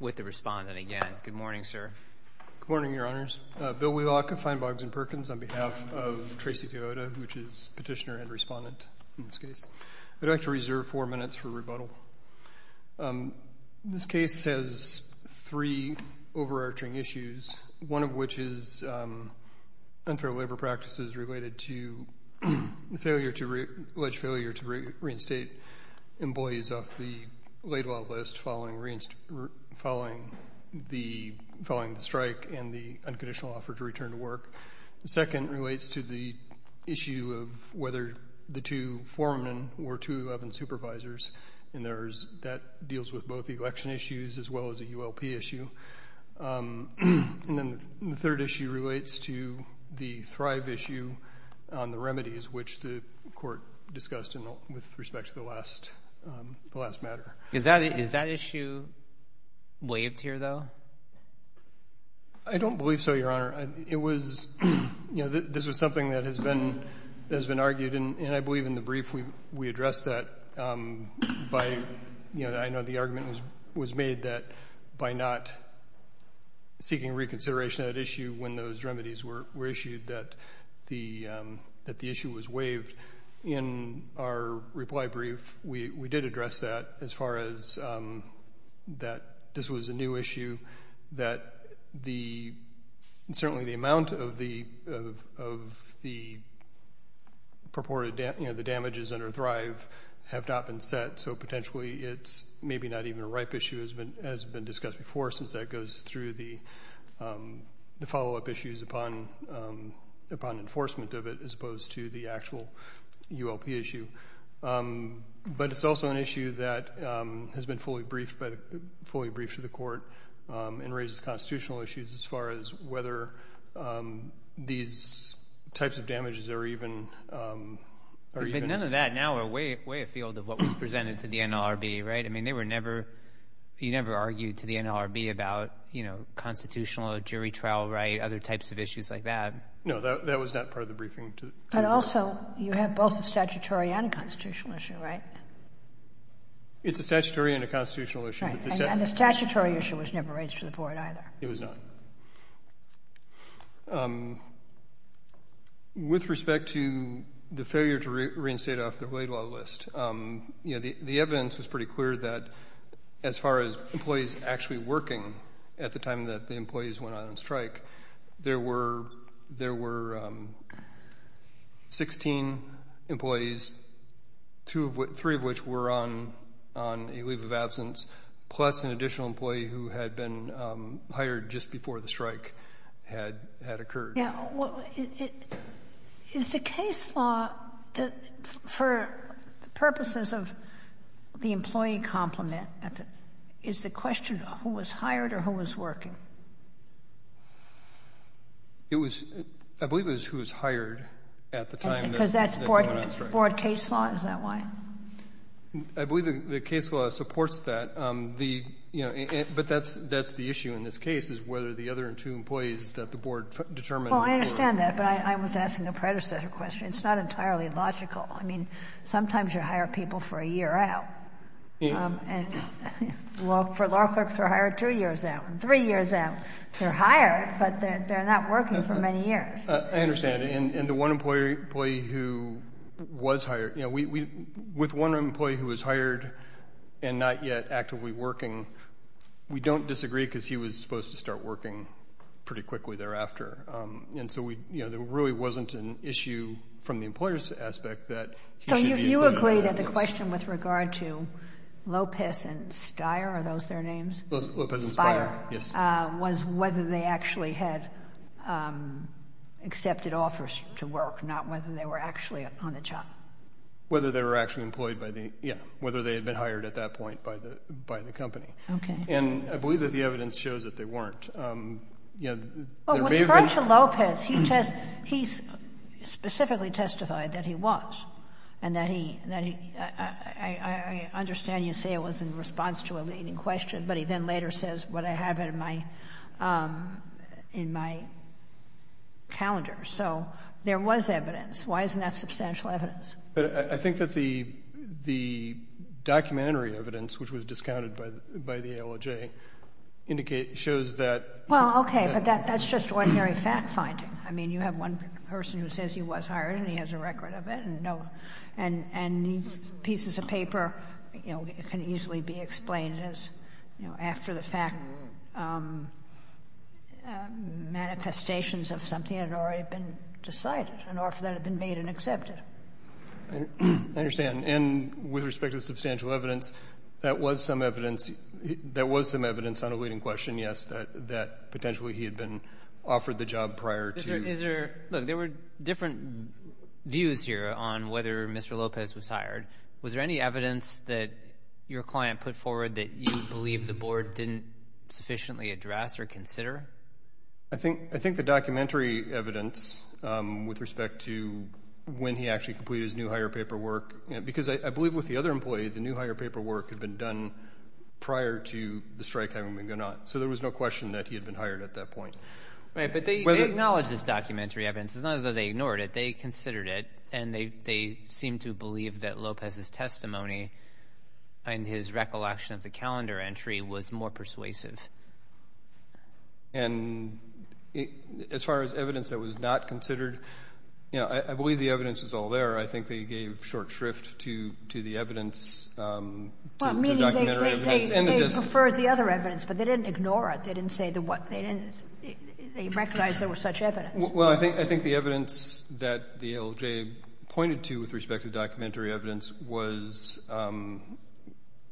with the respondent again. Good morning, sir. Good morning, Your Honors. Bill Wheelock of Feinbogs & Perkins on behalf of Tracy Toyota, which is petitioner and respondent in this case. I'd like to reserve four minutes for rebuttal. This case has three overarching issues, one of which is unfair labor practices related to the alleged failure to reinstate employees off the late-law list following the strike and the unconditional offer to return to work. The second relates to the issue of whether the two foremen or 211 supervisors, and that deals with both election issues as well as a ULP issue. And then the third issue relates to the Thrive issue on the remedies which the court discussed with respect to the last matter. Is that issue waived here, though? I don't believe so, Your Honor. It was, you know, this was something that has been argued, and I believe in the brief we addressed that by, you know, I know the argument was made that by not seeking reconsideration at issue when those remedies were issued, that the issue was waived. In our reply brief, we did address that as far as that this was a new issue, that the, certainly the amount of the purported, you know, the damages under Thrive have not been set, so potentially it's maybe not even a ripe issue as has been discussed before since that goes through the follow-up issues upon enforcement of it as opposed to the actual ULP issue. But it's also an issue that has been fully briefed to the court and raises constitutional issues as far as whether these types of damages are even... None of that now are way afield of what was presented to the NLRB, right? I mean, they were never, you never argued to the NLRB about, you know, constitutional jury trial, right, other types of issues like that. No, that was not part of the briefing. But also, you have both a statutory and a constitutional issue, right? It's a statutory and a constitutional issue. And the statutory issue was never raised to the board either. It was not. With respect to the failure to reinstate it off the Wade Law list, you know, the evidence was pretty working at the time that the employees went on strike. There were 16 employees, three of which were on a leave of absence, plus an additional employee who had been hired just before the strike had occurred. Yeah. Well, is the case law, for purposes of the employee complement, is the question who was hired or who was working? It was, I believe it was who was hired at the time that went on strike. Because that's board case law? Is that why? I believe the case law supports that. The, you know, but that's the issue in this case, is whether the other two employees that the board determined were... Well, I understand that, but I was asking a predecessor question. It's not entirely logical. I mean, sometimes you hire people for a year out and for a long time. Law clerks are hired two years out and three years out. They're hired, but they're not working for many years. I understand. And the one employee who was hired, you know, with one employee who was hired and not yet actively working, we don't disagree because he was supposed to start working pretty quickly thereafter. And so we, you know, there really wasn't an issue from the employer's aspect that... James? Lopez and Spider, yes. Spider, was whether they actually had accepted offers to work, not whether they were actually on the job. Whether they were actually employed by the, yeah, whether they had been hired at that point by the company. Okay. And I believe that the evidence shows that they weren't. You know, their behavior... Well, with Francisco Lopez, he test, he specifically testified that he was and that he, I understand you say it was in response to a leading question, but he then later says, but I have it in my, in my calendar. So there was evidence. Why isn't that substantial evidence? But I think that the, the documentary evidence, which was discounted by the ALJ, indicate, shows that... Well, okay, but that's just ordinary fact-finding. I mean, you have one person who says he was hired and he has a record of it and no, and, and these pieces of paper, you know, can easily be explained as, you know, after the fact manifestations of something that had already been decided, an offer that had been made and accepted. I understand. And with respect to the substantial evidence, that was some evidence, that was some evidence on a leading question, yes, that, that potentially he had been offered the job prior to... Views here on whether Mr. Lopez was hired, was there any evidence that your client put forward that you believe the board didn't sufficiently address or consider? I think, I think the documentary evidence with respect to when he actually completed his new hire paperwork, because I believe with the other employee, the new hire paperwork had been done prior to the strike having been gone on. So there was no question that he had been hired at that point. Right, but they, they acknowledge this documentary evidence. It's not as though they ignored it. They considered it and they, they seem to believe that Lopez's testimony and his recollection of the calendar entry was more persuasive. And as far as evidence that was not considered, you know, I, I believe the evidence is all there. I think they gave short shrift to, to the evidence, to, to the documentary evidence and the... Well, meaning they, they, they, they preferred the other evidence, but they didn't ignore it. They didn't say that what, they didn't, they recognized there was such evidence. Well, I think, I think the evidence that the ALJ pointed to with respect to the documentary evidence was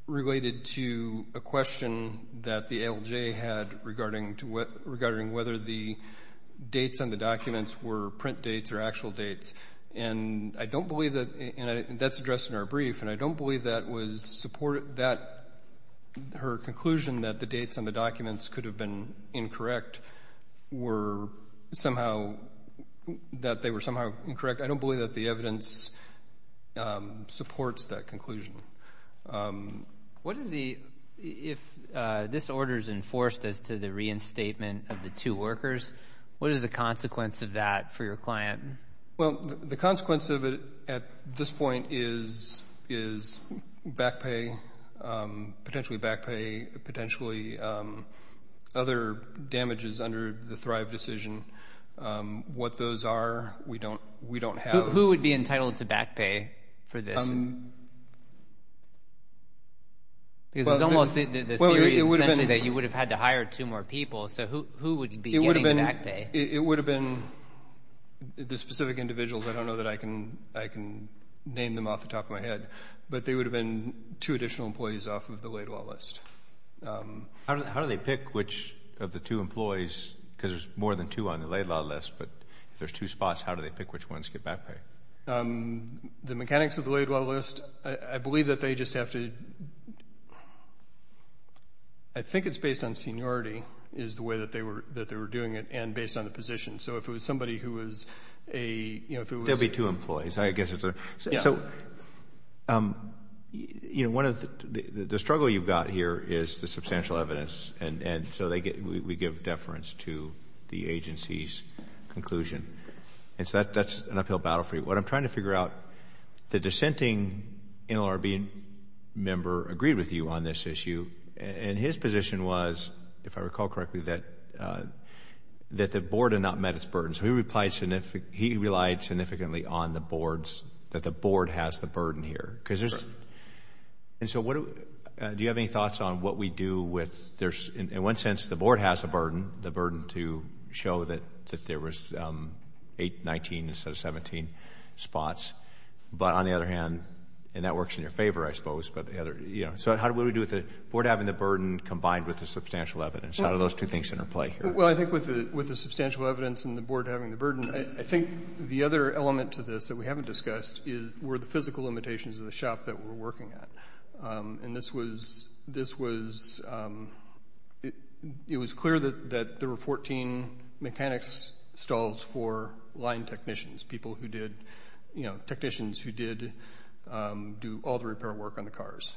related to a question that the ALJ had regarding to what, regarding whether the dates on the documents were print dates or actual dates. And I don't believe that, and that's addressed in our brief, and I don't believe that was supported, that her conclusion that the dates on the documents could have been incorrect were somehow, that they were somehow incorrect. I don't believe that the evidence supports that conclusion. What is the, if this order is enforced as to the reinstatement of the two workers, what is the consequence of that for your client? Well, the consequence of it at this point is, is back pay, potentially back pay, potentially other damages under the Thrive decision. What those are, we don't, we don't have. Who would be entitled to back pay for this? Because it's almost, the theory is essentially that you would have had to hire two more people, so who, who would be getting the back pay? It, it would have been the specific individuals. I don't know that I can, I can name them off the top of my head, but they would have been two additional employees off of the laid law list. How, how do they pick which of the two employees, because there's more than two on the laid law list, but if there's two spots, how do they pick which ones get back pay? The mechanics of the laid law list, I believe that they just have to, I think it's based on seniority is the way that they were, that they were doing it, and based on the position. So if it was somebody who was a, you know, if it was a There would be two employees, I guess it's a Yeah. So, you know, one of the, the struggle you've got here is the substantial evidence, and, and so they get, we, we give deference to the agency's conclusion. And so that, that's an uphill battle for you. What I'm trying to figure out, the dissenting NLRB member agreed with you on this issue, and his position was, if I recall correctly, that, that the board had not met its burden. So he replied, he relied significantly on the board's, that the board has the burden here, because there's, and so what do, do you have any thoughts on what we do with, there's, in one sense, the board has a burden, the burden to show that, that there was eight, 19 instead of 17 spots, but on the other hand, and that works in your favor, I suppose, but the other, you know, so how do, what do we do with the board having the burden combined with the substantial evidence? How do those two things interplay here? Well, I think with the, with the substantial evidence and the board having the burden, I think the other element to this that we haven't discussed is, were the physical limitations of the shop that we're working at. And this was, this was, it was clear that, that there were 14 mechanics stalls for line technicians, people who did, you know, technicians who did do all the repair work on the cars.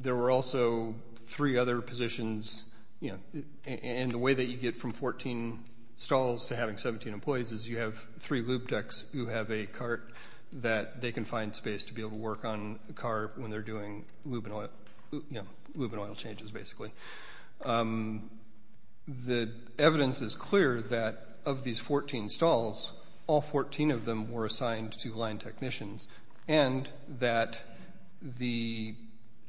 There were also three other positions, you know, and the way that you get from 14 stalls to having 17 employees is you have three lube decks who have a cart that they can find space to be able to work on the car when they're doing lube and oil, you know, lube and oil changes, basically. The evidence is clear that of these 14 stalls, all 14 of them were assigned to line technicians and that the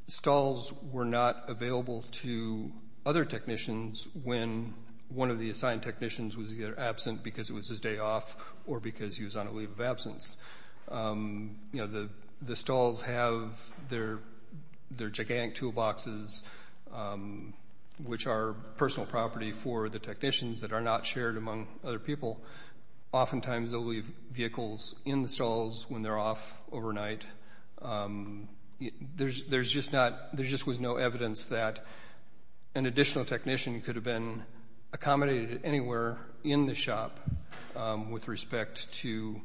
stalls were not available to other technicians when one of the assigned technicians was either absent because it was his day off or because he was on a leave of absence. You know, the stalls have their, their gigantic toolboxes, which are personal property for the technicians that are not shared among other people. Oftentimes they'll leave vehicles in the stalls when they're off overnight. There's, there's just not, there just was no evidence that an additional technician could have been accommodated anywhere in the shop with respect to,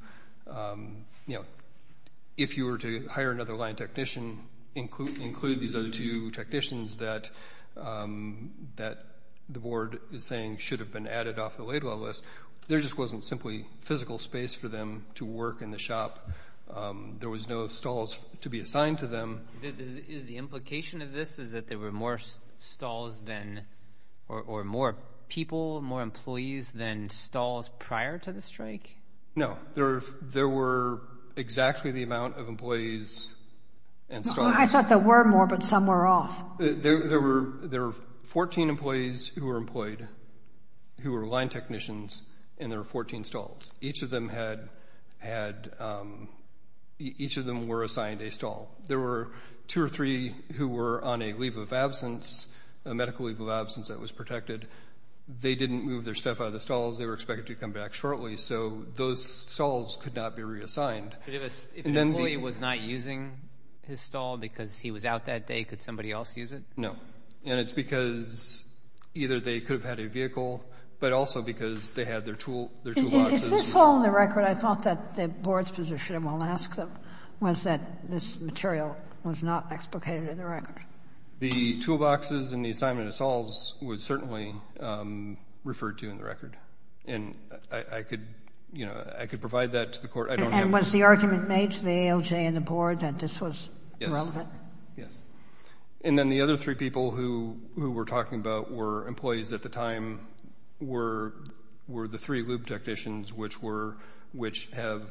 you know, if you were to hire another line technician, include these other two technicians that, that the board is saying should have been added off the lay-dwell list. There just wasn't simply physical space for them to work in the shop. There was no stalls to be assigned to them. Is the implication of this is that there were more stalls than, or more people, more employees than stalls prior to the strike? No, there, there were exactly the amount of employees and stalls. I thought there were more, but some were off. There were, there were 14 employees who were employed, who were line technicians, and there were 14 stalls. Each of them had, had, each of them were assigned a stall. There were two or three who were on a leave of absence, a medical leave of absence that was protected. They didn't move their stuff out of the stalls. They were expected to come back shortly. So those stalls could not be reassigned. But if an employee was not using his stall because he was out that day, could somebody else use it? No. And it's because either they could have had a vehicle, but also because they had their tool, their toolboxes. Is this all in the record? I thought that the board's position, and we'll ask them, was that this material was not explicated in the record. The toolboxes and the assignment of stalls was certainly referred to in the record. And I could, you know, I could provide that to the court. And was the argument made to the ALJ and the board that this was relevant? Yes. And then the other three people who we're talking about were employees at the time, were the three lube technicians, which were, which have,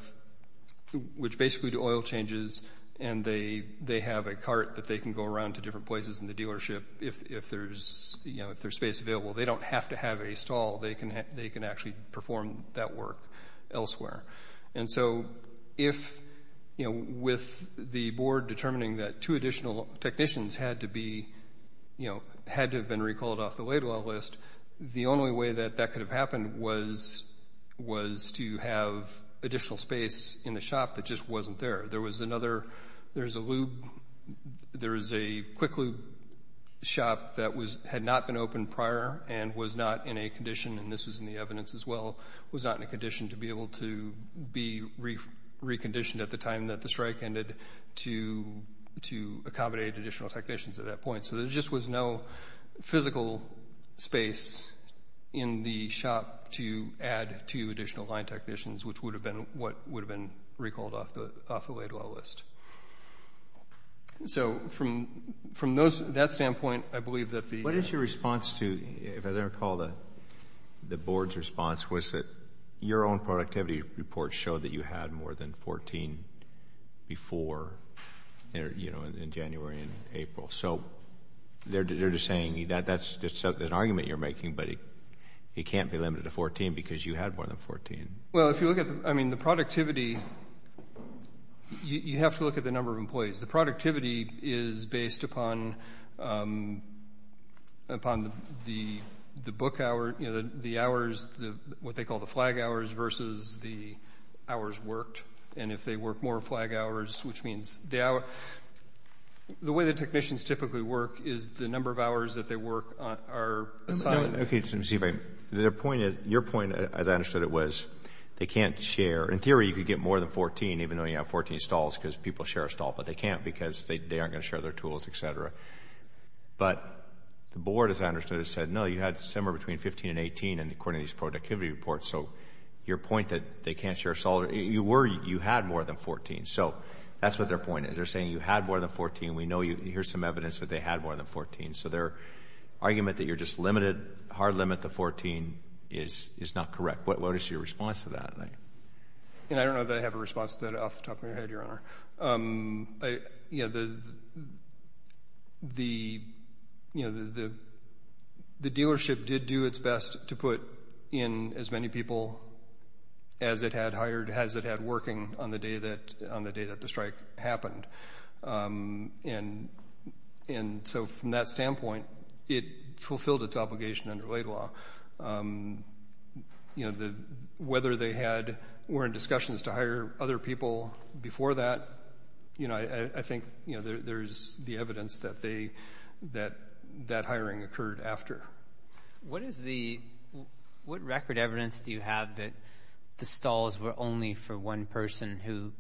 which basically do oil changes, and they have a cart that they can go around to different places in the dealership if there's, you know, if there's space available. They don't have to have a stall. They can, they can actually perform that work elsewhere. And so, if, you know, with the board determining that two additional technicians had to be, you know, had to have been recalled off the late oil list, the only way that that could have happened was, was to have additional space in the shop that just wasn't there. There was another, there's a lube, there is a quick lube shop that was, had not been open prior and was not in a condition, and this was in the evidence as well, was not in a condition to be able to be reconditioned at the time that the strike ended to, to accommodate additional technicians at that point. So, there just was no physical space in the shop to add two additional line technicians, which would have been what would have been recalled off the late oil list. So, from, from those, that standpoint, I believe that the... What is your response to, as I recall, the, the board's response was that your own productivity report showed that you had more than 14 before, you know, in January and April. So, they're, they're just saying that that's, that's an argument you're making, but it can't be limited to 14 because you had more than 14. Well, if you look at, I mean, the productivity, you have to look at the number of employees. The productivity is based upon, upon the, the book hour, you know, the hours, what they call the flag hours versus the hours worked, and if they work more flag hours, which means the hour, the way the technicians typically work is the number of hours that they work are... Okay, just let me see if I, their point is, your point, as I understood it, was they can't share. In theory, you could get more than 14, even though you have 14 stalls because people share a stall, but they can't because they aren't going to share their tools, etc. But the board, as I understood it, said, no, you had somewhere between 15 and 18, and according to these productivity reports, so your point that they can't share a stall, you were, you had more than 14. So, that's what their point is. They're saying you had more than 14. We know you, here's some evidence that they had more than 14. So, their argument that you're just limited, hard limit to 14 is, is not correct. What is your response to that? I don't know that I have a response to that off the top of my head, Your Honor. The dealership did do its best to put in as many people as it had hired, as it had working on the day that, on the day that the strike happened. And so, from that standpoint, it fulfilled its obligation under late law. You know, whether they had, were in discussions to hire other people before that, you know, I think, you know, there's the evidence that they, that that hiring occurred after. What is the, what record evidence do you have that the stalls were only for one person who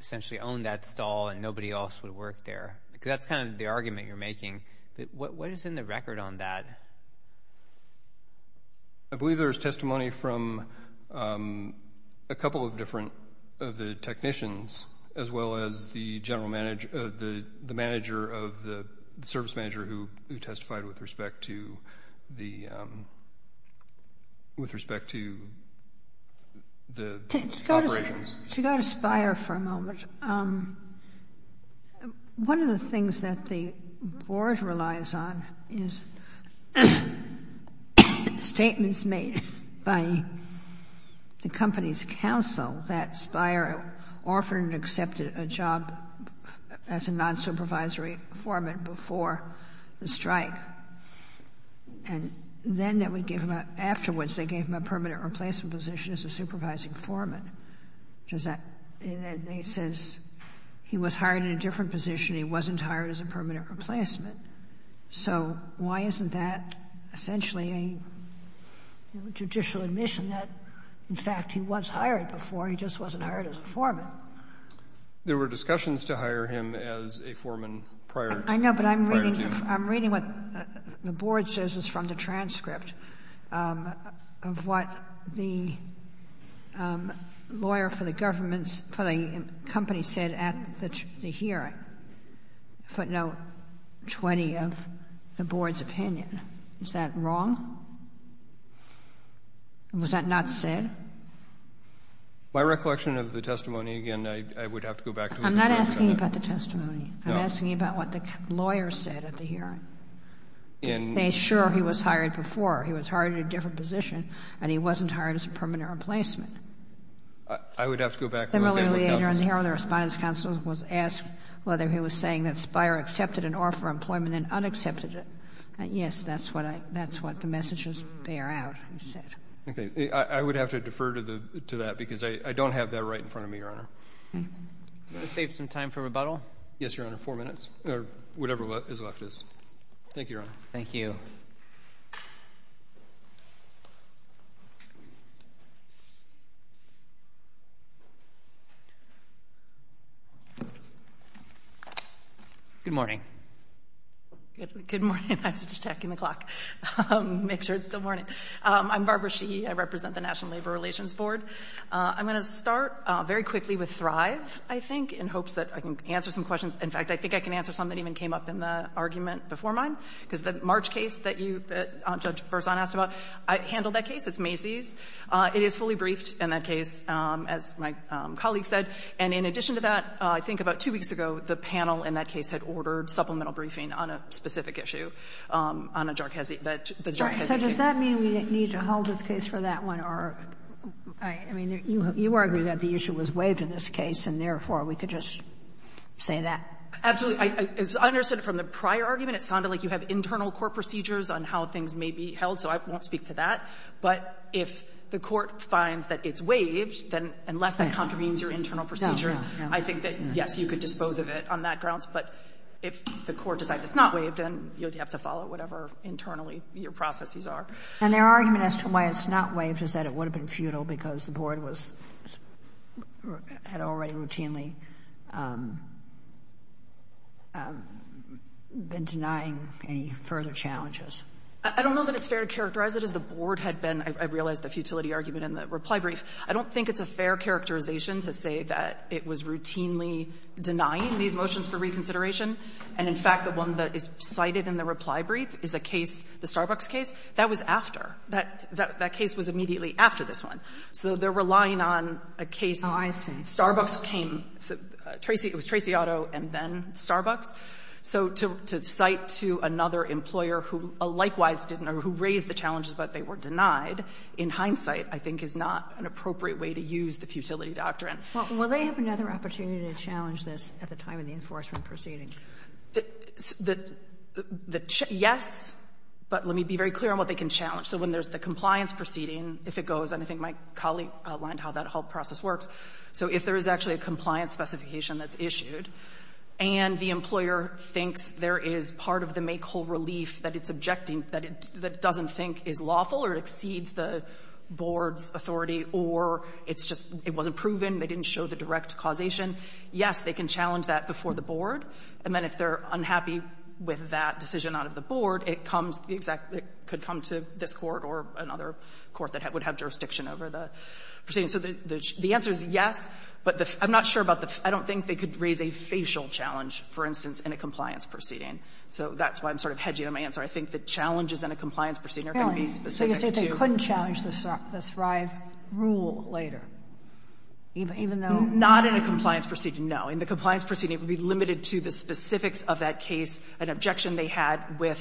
essentially owned that stall and nobody else would work there? Because that's kind of the argument you're making. What is in the record on that? I believe there's testimony from a couple of different, of the technicians, as well as the general manager, the manager of the, the service manager who testified with respect to the, with respect to the operations. You got to Spire for a moment. One of the things that the Board relies on is statements made by the company's counsel that Spire offered and accepted a job as a nonsupervisory foreman before the strike, and then that would give him a, afterwards they gave him a permanent replacement position as a supervising foreman. Does that make sense? He was hired in a different position. He wasn't hired as a permanent replacement. So why isn't that essentially a, you know, judicial admission that, in fact, he was hired before, he just wasn't hired as a foreman? There were discussions to hire him as a foreman prior to, prior to. I'm reading, I'm reading what the Board says is from the transcript of what the lawyer for the government's, for the company said at the hearing, footnote 20 of the Board's opinion. Is that wrong? Was that not said? My recollection of the testimony, again, I, I would have to go back to it. I'm not asking you about the testimony. No. I'm asking you about what the lawyer said at the hearing. And. To say, sure, he was hired before. He was hired in a different position, and he wasn't hired as a permanent replacement. I, I would have to go back and look at the counsel's. Similarly, the liaison here on the Respondents' Counsel was asked whether he was saying that Spire accepted an offer of employment and unaccepted it. Yes, that's what I, that's what the messages bear out, you said. Okay. I, I would have to defer to the, to that, because I, I don't have that right in front of me, Your Honor. Do you want to save some time for rebuttal? Yes, Your Honor, four minutes, or whatever is left is. Thank you, Your Honor. Thank you. Good morning. Good, good morning. I was just checking the clock, make sure it's still morning. I'm Barbara Sheehy. I represent the National Labor Relations Board. I'm going to start very quickly with Thrive, I think, in hopes that I can answer some questions. In fact, I think I can answer some that even came up in the argument before mine, because the March case that you, Judge Berzon, asked about, I handled that case. It's Macy's. It is fully briefed in that case, as my colleague said. And in addition to that, I think about two weeks ago, the panel in that case had ordered supplemental briefing on a specific issue on a Jarchezi, that the Jarchezi case. So does that mean we need to hold this case for that one, or, I mean, you, you argue that the issue was waived in this case, and, therefore, we could just say that? Absolutely. I understood from the prior argument, it sounded like you have internal court procedures on how things may be held, so I won't speak to that. But if the court finds that it's waived, then unless that contravenes your internal procedures, I think that, yes, you could dispose of it on that grounds. But if the court decides it's not waived, then you'd have to follow whatever internally your processes are. And their argument as to why it's not waived is that it would have been futile because the board was or had already routinely been denying any further challenges. I don't know that it's fair to characterize it as the board had been, I realize, the futility argument in the reply brief. I don't think it's a fair characterization to say that it was routinely denying these motions for reconsideration, and, in fact, the one that is cited in the reply brief is a case, the Starbucks case. That was after. That case was immediately after this one. So they're relying on a case. Sotomayor, I see. Starbucks came. It was Tracy Auto and then Starbucks. So to cite to another employer who likewise didn't or who raised the challenges, but they were denied, in hindsight, I think, is not an appropriate way to use the futility doctrine. Well, will they have another opportunity to challenge this at the time of the enforcement proceeding? The challenge, yes, but let me be very clear on what they can challenge. So when there's the compliance proceeding, if it goes, and I think my colleague outlined how that whole process works, so if there is actually a compliance specification that's issued and the employer thinks there is part of the make-whole relief that it's objecting, that it doesn't think is lawful or exceeds the board's authority or it's just it wasn't proven, they didn't show the direct causation, yes, they can challenge that before the board, and then if they're unhappy with that decision out of the board, it comes, it could come to this court or another court that would have jurisdiction over the proceeding. So the answer is yes, but I'm not sure about the — I don't think they could raise a facial challenge, for instance, in a compliance proceeding. So that's why I'm sort of hedging on my answer. I think the challenges in a compliance proceeding are going to be specific to the Sotomayor, you say they couldn't challenge the Thrive rule later, even though Not in a compliance proceeding, no. In the compliance proceeding, it would be limited to the specifics of that case, an issue they had with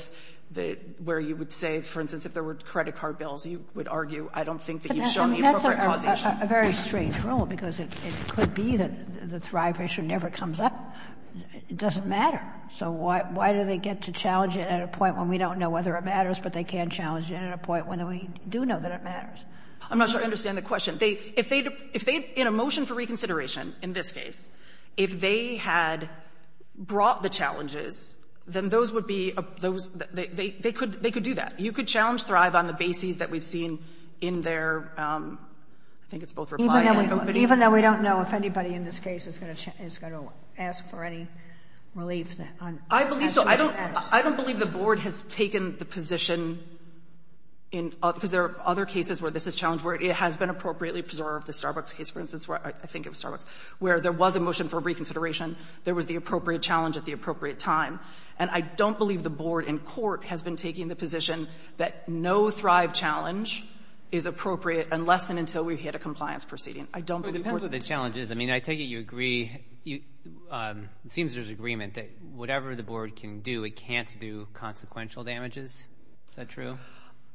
the — where you would say, for instance, if there were credit card bills, you would argue, I don't think that you've shown the appropriate causation. But that's a very strange rule, because it could be that the Thrive issue never comes up. It doesn't matter. So why do they get to challenge it at a point when we don't know whether it matters, but they can challenge it at a point when we do know that it matters? I'm not sure I understand the question. They — if they — if they, in a motion for reconsideration, in this case, if they had brought the challenges, then those would be — they could do that. You could challenge Thrive on the basis that we've seen in their — I think it's both reply and — Even though we don't know if anybody in this case is going to ask for any relief on — I believe so. I don't believe the Board has taken the position in — because there are other cases where this is challenged, where it has been appropriately preserved. The Starbucks case, for instance, I think it was Starbucks, where there was a motion for reconsideration, there was the appropriate challenge at the appropriate time. And I don't believe the Board in court has been taking the position that no Thrive challenge is appropriate unless and until we've hit a compliance proceeding. I don't believe the Board — But it depends what the challenge is. I mean, I take it you agree — it seems there's agreement that whatever the Board can do, it can't do consequential damages. Is that true?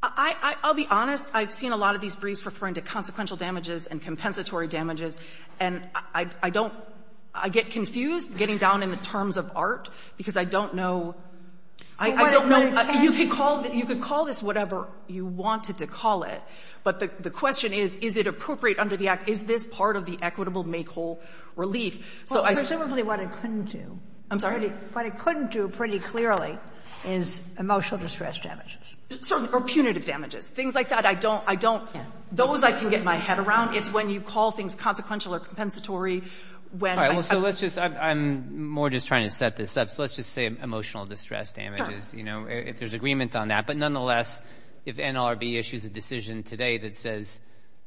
I'll be honest. I've seen a lot of these briefs referring to consequential damages and compensatory damages. And I don't — I get confused getting down in the terms of art, because I don't know — But what it can do — You could call this whatever you wanted to call it, but the question is, is it appropriate under the Act? Is this part of the equitable make-whole relief? So I — Well, presumably what it couldn't do — I'm sorry? What it couldn't do pretty clearly is emotional distress damages. Or punitive damages, things like that. I don't — I don't — those I can get my head around. It's when you call things consequential or compensatory, when — All right, well, so let's just — I'm more just trying to set this up. So let's just say emotional distress damages, you know, if there's agreement on that. But nonetheless, if NLRB issues a decision today that says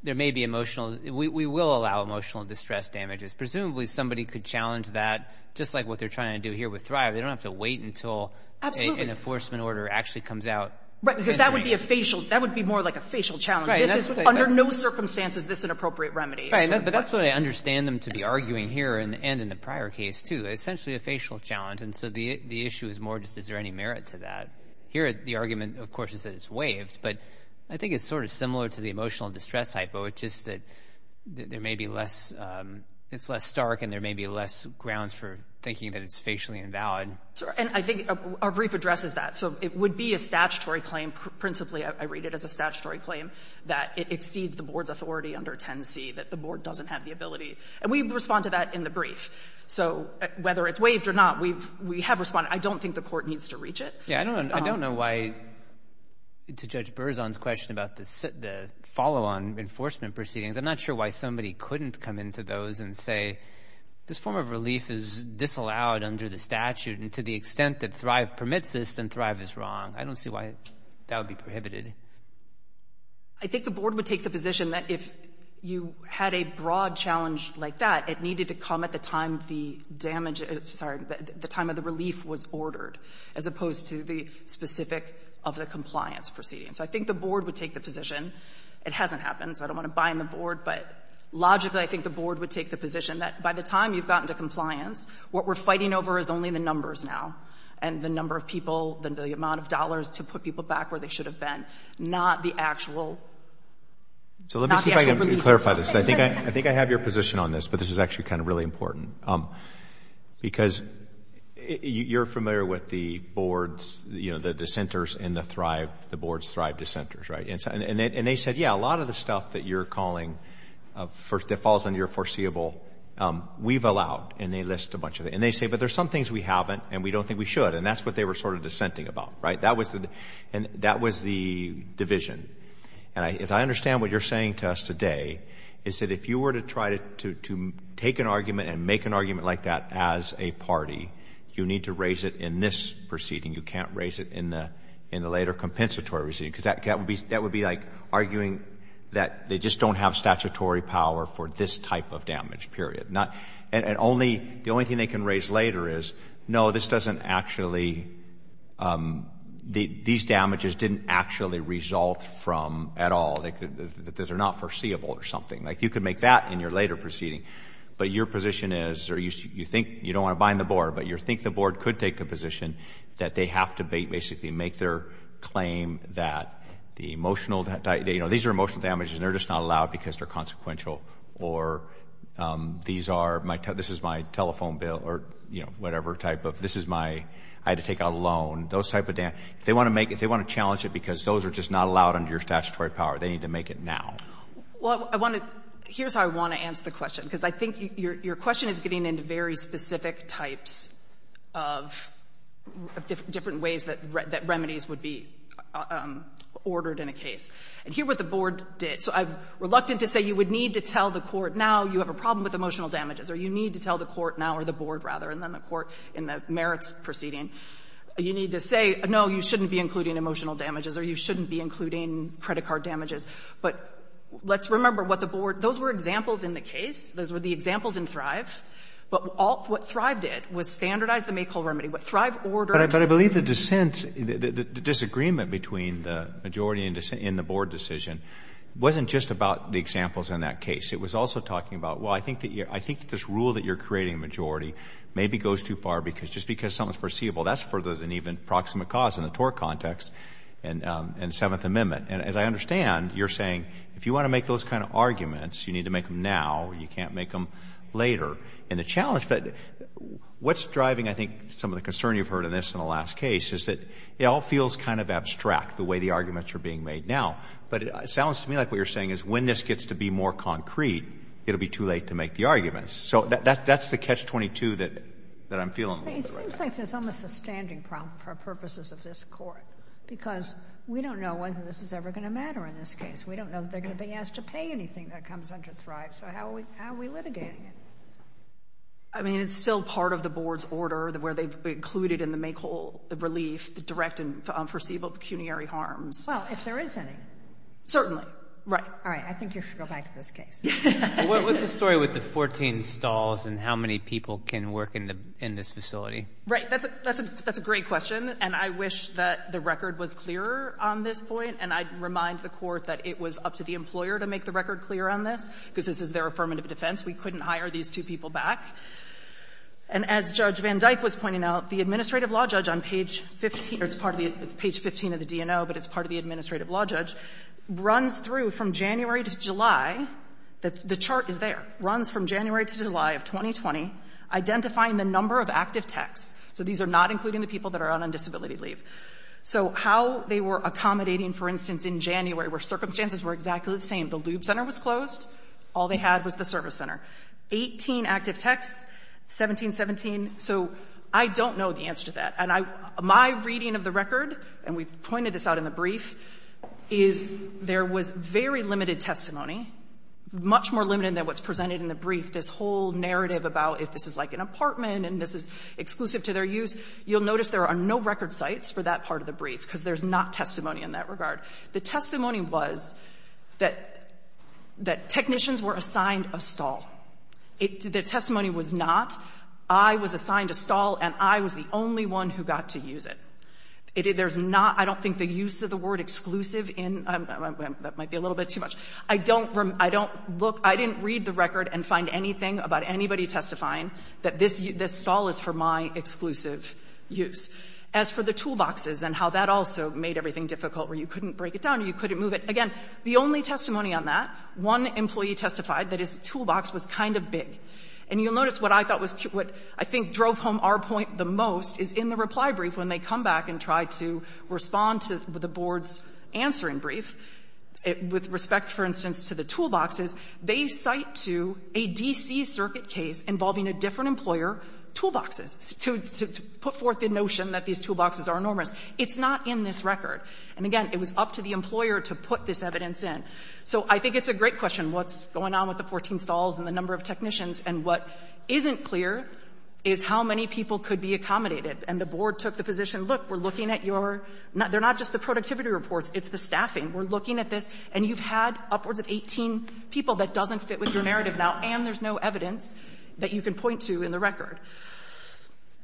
there may be emotional — we will allow emotional distress damages. Presumably somebody could challenge that, just like what they're trying to do here with Thrive. They don't have to wait until an enforcement order actually comes out. Right, because that would be a facial — that would be more like a facial challenge. This is — under no circumstances is this an appropriate remedy. Right, but that's what I understand them to be arguing here and in the prior case, too. Essentially a facial challenge. And so the issue is more just, is there any merit to that? Here, the argument, of course, is that it's waived. But I think it's sort of similar to the emotional distress hypo. It's just that there may be less — it's less stark and there may be less grounds for thinking that it's facially invalid. And I think our brief addresses that. So it would be a statutory claim. Principally, I read it as a statutory claim. That it exceeds the board's authority under 10C. That the board doesn't have the ability. And we respond to that in the brief. So whether it's waived or not, we have responded. I don't think the court needs to reach it. Yeah, I don't know why — to Judge Berzon's question about the follow-on enforcement proceedings. I'm not sure why somebody couldn't come into those and say, this form of relief is disallowed under the statute. And to the extent that Thrive permits this, then Thrive is wrong. I don't see why that would be prohibited. I think the board would take the position that if you had a broad challenge like that, it needed to come at the time the damage — sorry, the time of the relief was ordered, as opposed to the specific of the compliance proceedings. So I think the board would take the position — it hasn't happened, so I don't want to buy in the board — but logically, I think the board would take the position that by the time you've gotten to compliance, what we're fighting over is only the numbers now and the number of people and the amount of dollars to put people back where they should have been, not the actual relief itself. So let me see if I can clarify this. I think I have your position on this, but this is actually kind of really important. Because you're familiar with the board's — you know, the dissenters in the Thrive — the board's Thrive dissenters, right? And they said, yeah, a lot of the stuff that you're calling — that falls under your foreseeable, we've allowed. And they list a bunch of it. And they say, but there's some things we haven't, and we don't think we should. And that's what they were sort of dissenting about, right? That was the — and that was the division. And as I understand what you're saying to us today, is that if you were to try to take an argument and make an argument like that as a party, you need to raise it in this proceeding. You can't raise it in the later compensatory proceeding, because that would be like arguing that they just don't have statutory power for this type of damage, period. Not — and only — the only thing they can raise later is, no, this doesn't actually — these damages didn't actually result from, at all, that they're not foreseeable or something. Like, you can make that in your later proceeding. But your position is, or you think — you don't want to bind the board, but you think the board could take the position that they have to basically make their claim that the emotional — you know, these are emotional damages, and they're just not allowed because they're consequential, or these are — this is my telephone bill, or, you know, whatever type of — this is my — I had to take out a loan. Those type of damages, if they want to make — if they want to challenge it because those are just not allowed under your statutory power, they need to make it now. Well, I want to — here's how I want to answer the question, because I think your question is getting into very specific types of different ways that remedies would be ordered in a case. And here what the board did — so I'm reluctant to say you would need to tell the court now you have a problem with emotional damages, or you need to tell the court now, or the board, rather, and then the court in the merits proceeding, you need to say, no, you shouldn't be including emotional damages, or you shouldn't be including credit card damages. But let's remember what the board — those were examples in the case. Those were the examples in Thrive. But all — what Thrive did was standardize the Maykul remedy. What Thrive ordered — But I believe the dissent — the disagreement between the majority in the board decision wasn't just about the examples in that case. It was also talking about, well, I think that you're — I think that this rule that you're creating a majority maybe goes too far, because just because something is foreseeable, that's further than even proximate cause in the tort context and Seventh Amendment. And as I understand, you're saying if you want to make those kind of arguments, you need to make them now, or you can't make them later. And the challenge — what's driving, I think, some of the concern you've heard in this and the last case is that it all feels kind of abstract, the way the arguments are being made now. But it sounds to me like what you're saying is when this gets to be more concrete, it'll be too late to make the arguments. So that's the catch-22 that I'm feeling a little bit right now. It seems like there's almost a standing problem for purposes of this Court, because we don't know whether this is ever going to matter in this case. We don't know if they're going to be asked to pay anything that comes under Thrive. So how are we litigating it? I mean, it's still part of the board's order, where they've included in the Mekul the relief, the direct and foreseeable pecuniary harms. Well, if there is any. Certainly. Right. All right. I think you should go back to this case. What's the story with the 14 stalls and how many people can work in this facility? Right. That's a great question. And I wish that the record was clearer on this point, and I'd remind the Court that it was up to the employer to make the record clear on this, because this is their affirmative defense. We couldn't hire these two people back. And as Judge Van Dyke was pointing out, the administrative law judge on page 15, or it's part of the page 15 of the DNO, but it's part of the administrative law judge, runs through from January to July. The chart is there. Runs from January to July of 2020, identifying the number of active techs. So these are not including the people that are on disability leave. So how they were accommodating, for instance, in January, where circumstances were exactly the same. The lube center was closed. All they had was the service center. 18 active techs, 17, 17. So I don't know the answer to that. And I — my reading of the record, and we've pointed this out in the brief, is there was very limited testimony, much more limited than what's presented in the brief. This whole narrative about if this is like an apartment and this is exclusive to their use, you'll notice there are no record sites for that part of the brief, because there's not testimony in that regard. The testimony was that technicians were assigned a stall. The testimony was not, I was assigned a stall. And I was the only one who got to use it. There's not — I don't think the use of the word exclusive in — that might be a little bit too much. I don't — I don't look — I didn't read the record and find anything about anybody testifying that this stall is for my exclusive use. As for the toolboxes and how that also made everything difficult where you couldn't break it down or you couldn't move it, again, the only testimony on that, one employee testified that his toolbox was kind of big. And you'll notice what I thought was — what I think drove home our point the most is in the reply brief when they come back and try to respond to the board's answering brief, with respect, for instance, to the toolboxes, they cite to a D.C. Circuit case involving a different employer toolboxes to put forth the notion that these toolboxes are enormous. It's not in this record. And, again, it was up to the employer to put this evidence in. So I think it's a great question, what's going on with the 14 stalls and the number of technicians. And what isn't clear is how many people could be accommodated. And the board took the position, look, we're looking at your — they're not just the productivity reports. It's the staffing. We're looking at this. And you've had upwards of 18 people that doesn't fit with your narrative now. And there's no evidence that you can point to in the record.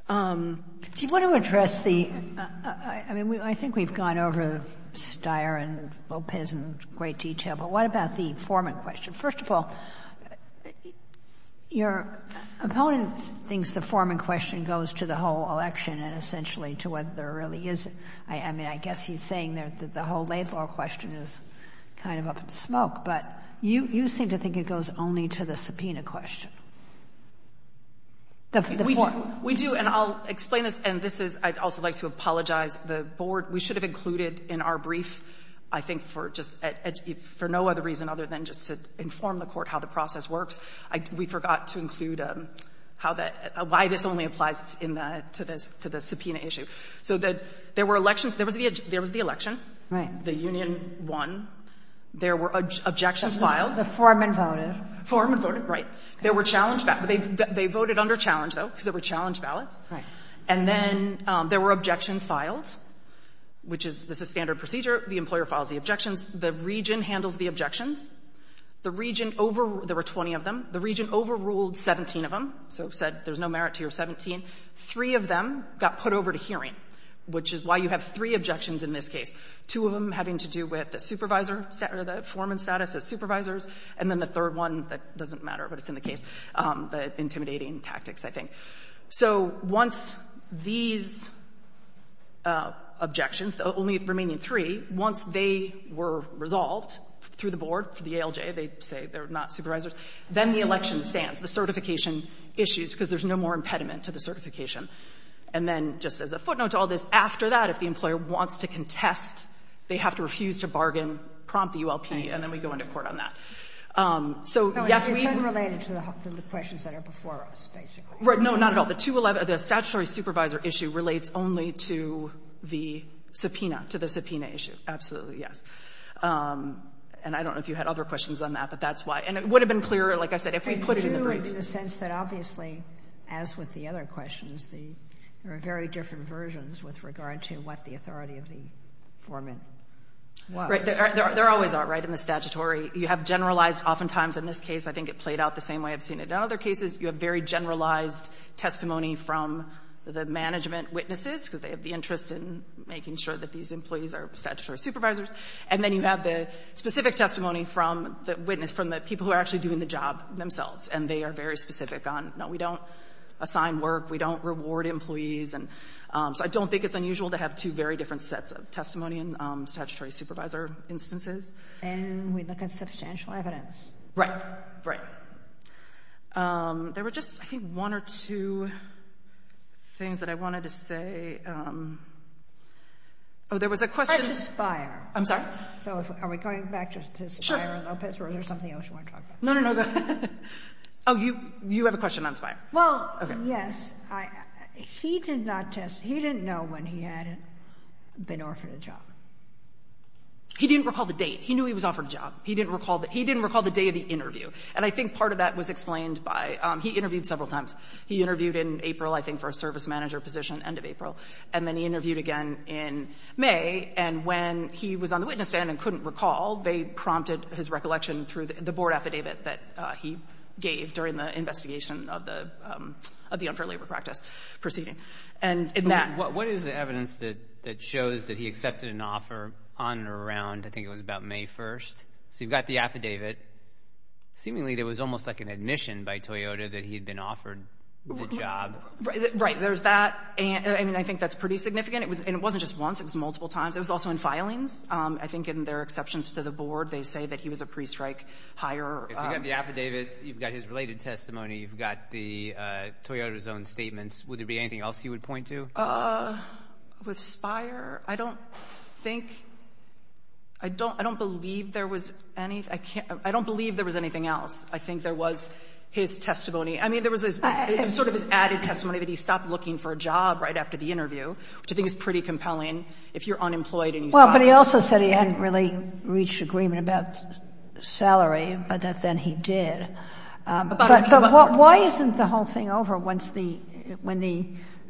Do you want to address the — I mean, I think we've gone over Steyer and Lopez in great detail, but what about the Foreman question? First of all, your opponent thinks the Foreman question goes to the whole election and essentially to whether there really is a — I mean, I guess he's saying that the whole Laidlaw question is kind of up in the smoke, but you seem to think it goes only to the subpoena question, the Foreman. We do, and I'll explain this, and this is — I'd also like to apologize. The board — we should have included in our brief, I think, for just — for no other reason other than just to inform the court how the process works, we forgot to include how that — why this only applies in the — to the subpoena issue. So there were elections. There was the election. The union won. There were objections filed. The Foreman voted. The Foreman voted, right. There were challenge — they voted under challenge, though, because there were challenge ballots. Right. And then there were objections filed, which is — this is standard procedure. The employer files the objections. The region handles the objections. The region — there were 20 of them. The region overruled 17 of them, so said there's no merit to your 17. Three of them got put over to hearing, which is why you have three objections in this case, two of them having to do with the supervisor — the Foreman's status as supervisors, and then the third one that doesn't matter, but it's in the case, the intimidating tactics, I think. So once these objections — only remaining three — once they were resolved through the board, through the ALJ, they say they're not supervisors, then the election stands, the certification issues, because there's no more impediment to the certification. And then, just as a footnote to all this, after that, if the employer wants to contest, they have to refuse to bargain, prompt the ULP, and then we go into court on that. So yes, we — No, it's unrelated to the questions that are before us, basically. Right. No, not at all. The 211 — the statutory supervisor issue relates only to the subpoena, to the subpoena issue. Absolutely, yes. And I don't know if you had other questions on that, but that's why. And it would have been clearer, like I said, if we put it in the brief. I do, in the sense that, obviously, as with the other questions, there are very different versions with regard to what the authority of the Foreman was. Right. There always are, right, in the statutory. You have generalized oftentimes in this case. I think it played out the same way I've seen it in other cases. You have very generalized testimony from the management witnesses, because they have the interest in making sure that these employees are statutory supervisors. And then you have the specific testimony from the witness, from the people who are actually doing the job themselves, and they are very specific on, no, we don't assign work, we don't reward employees. And so I don't think it's unusual to have two very different sets of testimony in statutory supervisor instances. And we look at substantial evidence. Right. Right. There were just, I think, one or two things that I wanted to say. Oh, there was a question. Back to Spire. I'm sorry? So are we going back to Spire and Lopez, or is there something else you want to talk about? No, no, no. Go ahead. Oh, you have a question on Spire. Well, yes. He did not test. He didn't know when he had been offered a job. He didn't recall the date. He knew he was offered a job. He didn't recall the day of the interview. And I think part of that was explained by he interviewed several times. He interviewed in April, I think, for a service manager position, end of April. And then he interviewed again in May. And when he was on the witness stand and couldn't recall, they prompted his recollection through the board affidavit that he gave during the investigation of the unfair labor practice proceeding. And in that What is the evidence that shows that he accepted an offer on or around, I think it was about May 1st? So you've got the affidavit. Seemingly, there was almost like an admission by Toyota that he had been offered the job. Right. There's that. And I mean, I think that's pretty significant. And it wasn't just once. It was multiple times. It was also in filings. I think in their exceptions to the board, they say that he was a pre-strike hire. You've got the affidavit. You've got his related testimony. You've got the Toyota's own statements. Would there be anything else you would point to? With Spire, I don't think, I don't, I don't believe there was any, I can't, I don't believe there was anything else. I think there was his testimony. I mean, there was sort of this added testimony that he stopped looking for a job right after the interview, which I think is pretty compelling if you're unemployed and you Well, but he also said he hadn't really reached agreement about salary, but that then he did. But why isn't the whole thing over once the, when the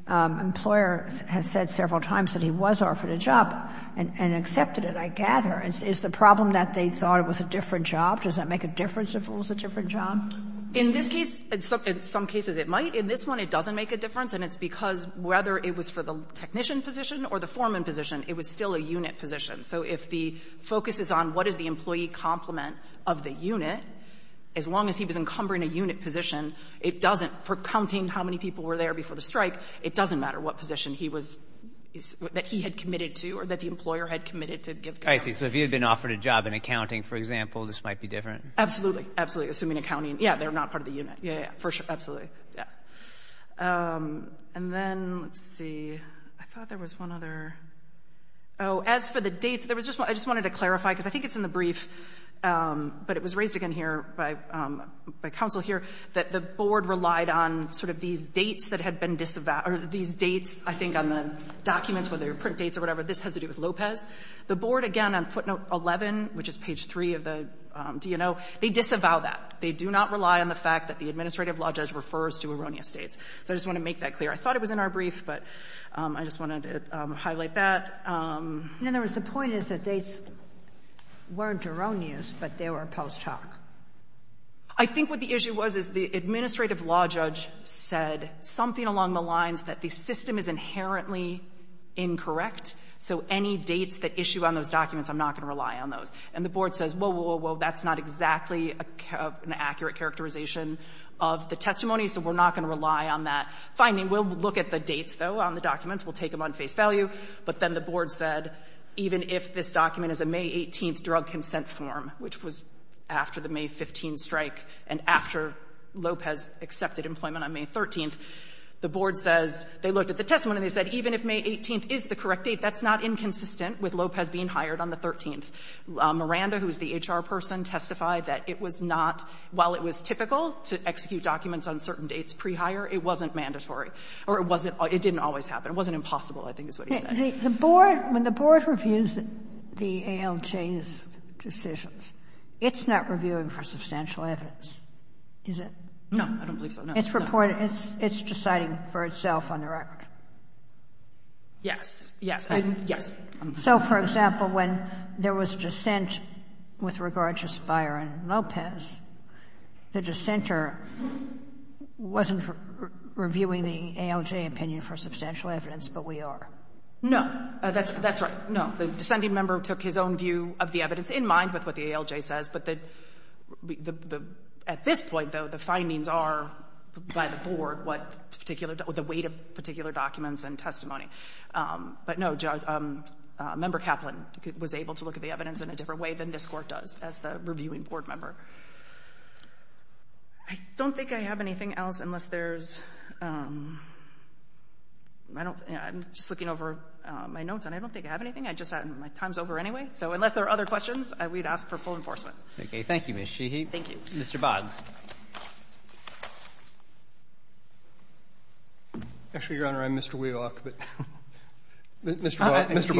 employer has said several times that he was offered a job and accepted it, I gather. Is the problem that they thought it was a different job? Does that make a difference if it was a different job? In this case, in some cases it might. In this one, it doesn't make a difference. And it's because whether it was for the technician position or the foreman position, it was still a unit position. So if the focus is on what is the employee complement of the unit, as long as he was encumbering a unit position, it doesn't, for counting how many people were there before the strike, it doesn't matter what position he was, that he had committed to or that the employer had committed to give to him. I see. So if he had been offered a job in accounting, for example, this might be different. Absolutely. Absolutely. Assuming accounting. Yeah. They're not part of the unit. Yeah. For sure. Absolutely. Yeah. And then, let's see. I thought there was one other. Oh, as for the dates, there was just, I just wanted to clarify because I think it's in the brief, but it was raised again here by counsel here, that the board relied on sort of these dates that had been disavowed, or these dates, I think, on the documents, whether they were print dates or whatever. This has to do with Lopez. The board, again, on footnote 11, which is page 3 of the DNO, they disavow that. They do not rely on the fact that the administrative law judge refers to erroneous dates. So I just want to make that clear. I thought it was in our brief, but I just wanted to highlight that. In other words, the point is that dates weren't erroneous, but they were post hoc. I think what the issue was is the administrative law judge said something along the lines that the system is inherently incorrect, so any dates that issue on those documents, I'm not going to rely on those. And the board says, whoa, whoa, whoa, that's not exactly an accurate characterization of the testimony, so we're not going to rely on that. Finally, we'll look at the dates, though, on the documents. We'll take them on face value. But then the board said, even if this document is a May 18th drug consent form, which was after the May 15th strike and after Lopez accepted employment on May 13th, the board says, they looked at the testimony and they said, even if May 18th is the correct date, that's not inconsistent with Lopez being hired on the 13th. Miranda, who is the HR person, testified that it was not, while it was typical to execute documents on certain dates pre-hire, it wasn't mandatory, or it wasn't always, it didn't always happen. It wasn't impossible, I think is what he said. The board, when the board reviews the ALJ's decisions, it's not reviewing for substantial evidence, is it? No, I don't believe so, no. It's reporting, it's deciding for itself on the record. Yes, yes, yes. So, for example, when there was dissent with regard to Spire and Lopez, the dissenter wasn't reviewing the ALJ opinion for substantial evidence, but we are? No. That's right. No. The dissenting member took his own view of the evidence in mind with what the ALJ says, but the, at this point, though, the findings are by the board what particular, the weight of particular documents and testimony. But, no, Judge, Member Kaplan was able to look at the evidence in a different way than this Court does as the reviewing board member. I don't think I have anything else unless there's, I'm just looking over my notes and I don't think I have anything. My time's over anyway, so unless there are other questions, we'd ask for full enforcement. Okay. Thank you, Ms. Sheehy. Thank you. Mr. Boggs. Actually, Your Honor, I'm Mr. Wealock, but Mr.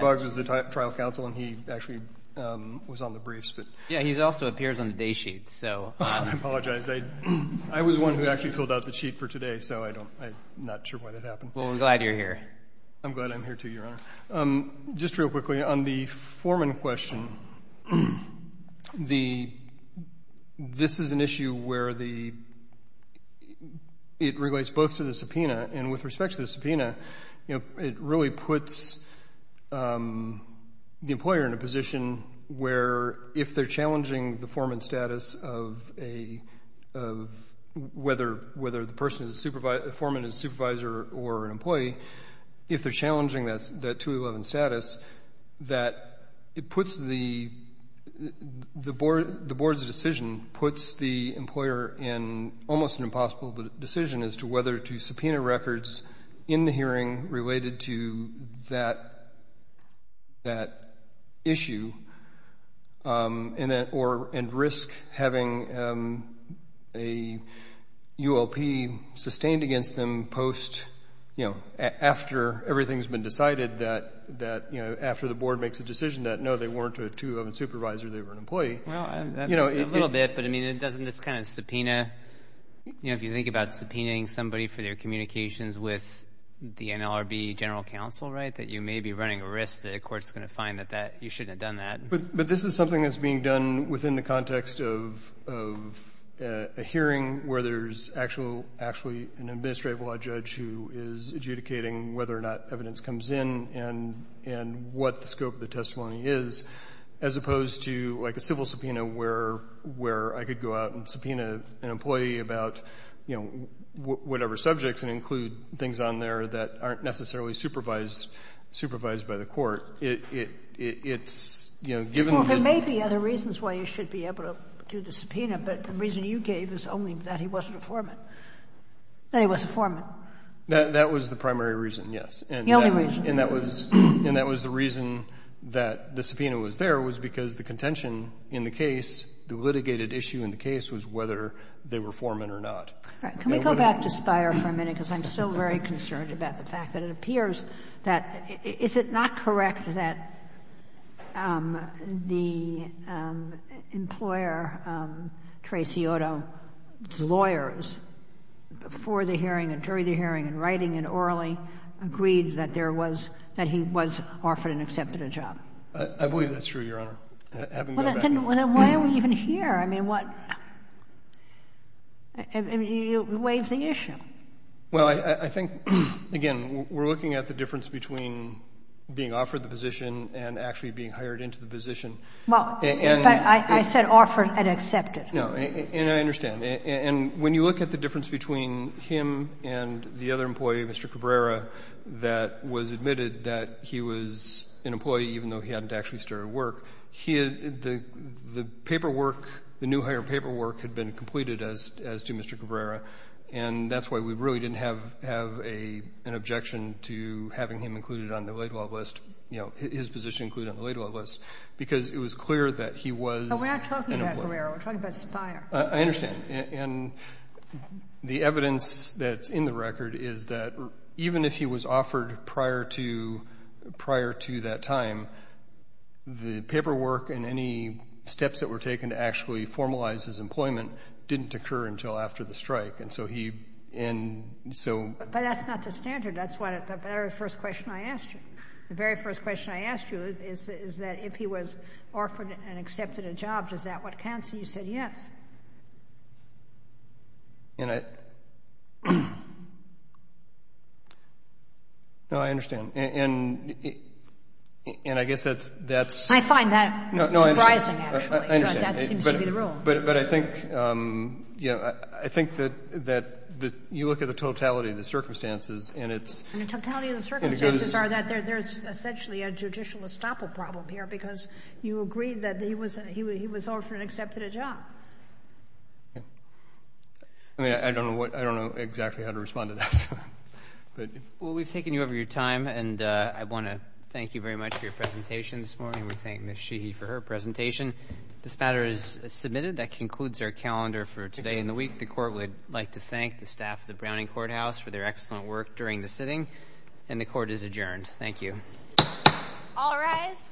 Boggs is the trial counsel and he actually was on the briefs. Yeah, he also appears on the day sheet, so. I apologize. I was the one who actually filled out the sheet for today, so I'm not sure why that happened. Well, I'm glad you're here. I'm glad I'm here, too, Your Honor. Just real quickly, on the Foreman question, this is an issue where it relates both to the subpoena, and with respect to the subpoena, it really puts the employer in a position where, if they're challenging the foreman status of whether the foreman is a supervisor or an employee, if they're challenging that 211 status, that it puts the board's decision, puts the employer in almost an impossible decision as to whether to subpoena records in the hearing related to that issue and risk having a ULP sustained against them post, you know, after everything's been decided that, you know, after the board makes a decision that, no, they weren't a two-oven supervisor, they were an employee. Well, a little bit, but, I mean, it doesn't just kind of subpoena, you know, if you think about subpoenaing somebody for their communications with the NLRB general counsel, right, that you may be running a risk that a court's going to find that you shouldn't have done that. But this is something that's being done within the context of a hearing where there's actually an administrative law judge who is adjudicating whether or not evidence comes in and what the scope of the testimony is, as opposed to, like, a civil subpoena where I could go out and subpoena an employee about, you know, whatever subjects and include things on there that aren't necessarily supervised by the court. It's, you know, given the... Well, there may be other reasons why you should be able to do the subpoena, but the reason you gave is only that he wasn't a foreman, that he was a foreman. That was the primary reason, yes. The only reason. And that was the reason that the subpoena was there was because the contention in the case, the litigated issue in the case, was whether they were foremen or not. Can we go back to Spyer for a minute, because I'm still very concerned about the fact that it appears that, is it not correct that the employer, Tracy Otto's lawyers, before the hearing and during the hearing and writing and orally agreed that there was, that he was offered and accepted a job? I believe that's true, Your Honor. Well, then why are we even here? I mean, what... It waives the issue. Well, I think, again, we're looking at the difference between being offered the position and actually being hired into the position. But I said offered and accepted. No. And I understand. And when you look at the difference between him and the other employee, Mr. Cabrera, that was admitted that he was an employee even though he hadn't actually started work, the paperwork, the new hire paperwork had been completed as to Mr. Cabrera. And that's why we really didn't have an objection to having him included on the laid-off list, you know, his position included on the laid-off list, because it was clear that he was an employer. Mr. Cabrera, we're talking about a supplier. I understand. And the evidence that's in the record is that even if he was offered prior to that time, the paperwork and any steps that were taken to actually formalize his employment didn't occur until after the strike. And so he... But that's not the standard. That's what the very first question I asked you. The very first question I asked you is that if he was offered and accepted a lay-off, is that what counts? And you said yes. And I... No, I understand. And I guess that's... I find that surprising, actually. I understand. That seems to be the rule. But I think, you know, I think that you look at the totality of the circumstances and it's... And the totality of the circumstances are that there's essentially a judicial estoppel problem here because you agree that he was offered and accepted a I mean, I don't know what... I don't know exactly how to respond to that. Well, we've taken you over your time and I want to thank you very much for your presentation this morning. We thank Ms. Sheehy for her presentation. This matter is submitted. That concludes our calendar for today and the week. The Court would like to thank the staff of the Browning Courthouse for their excellent work during the sitting. And the Court is adjourned. Thank you. All rise.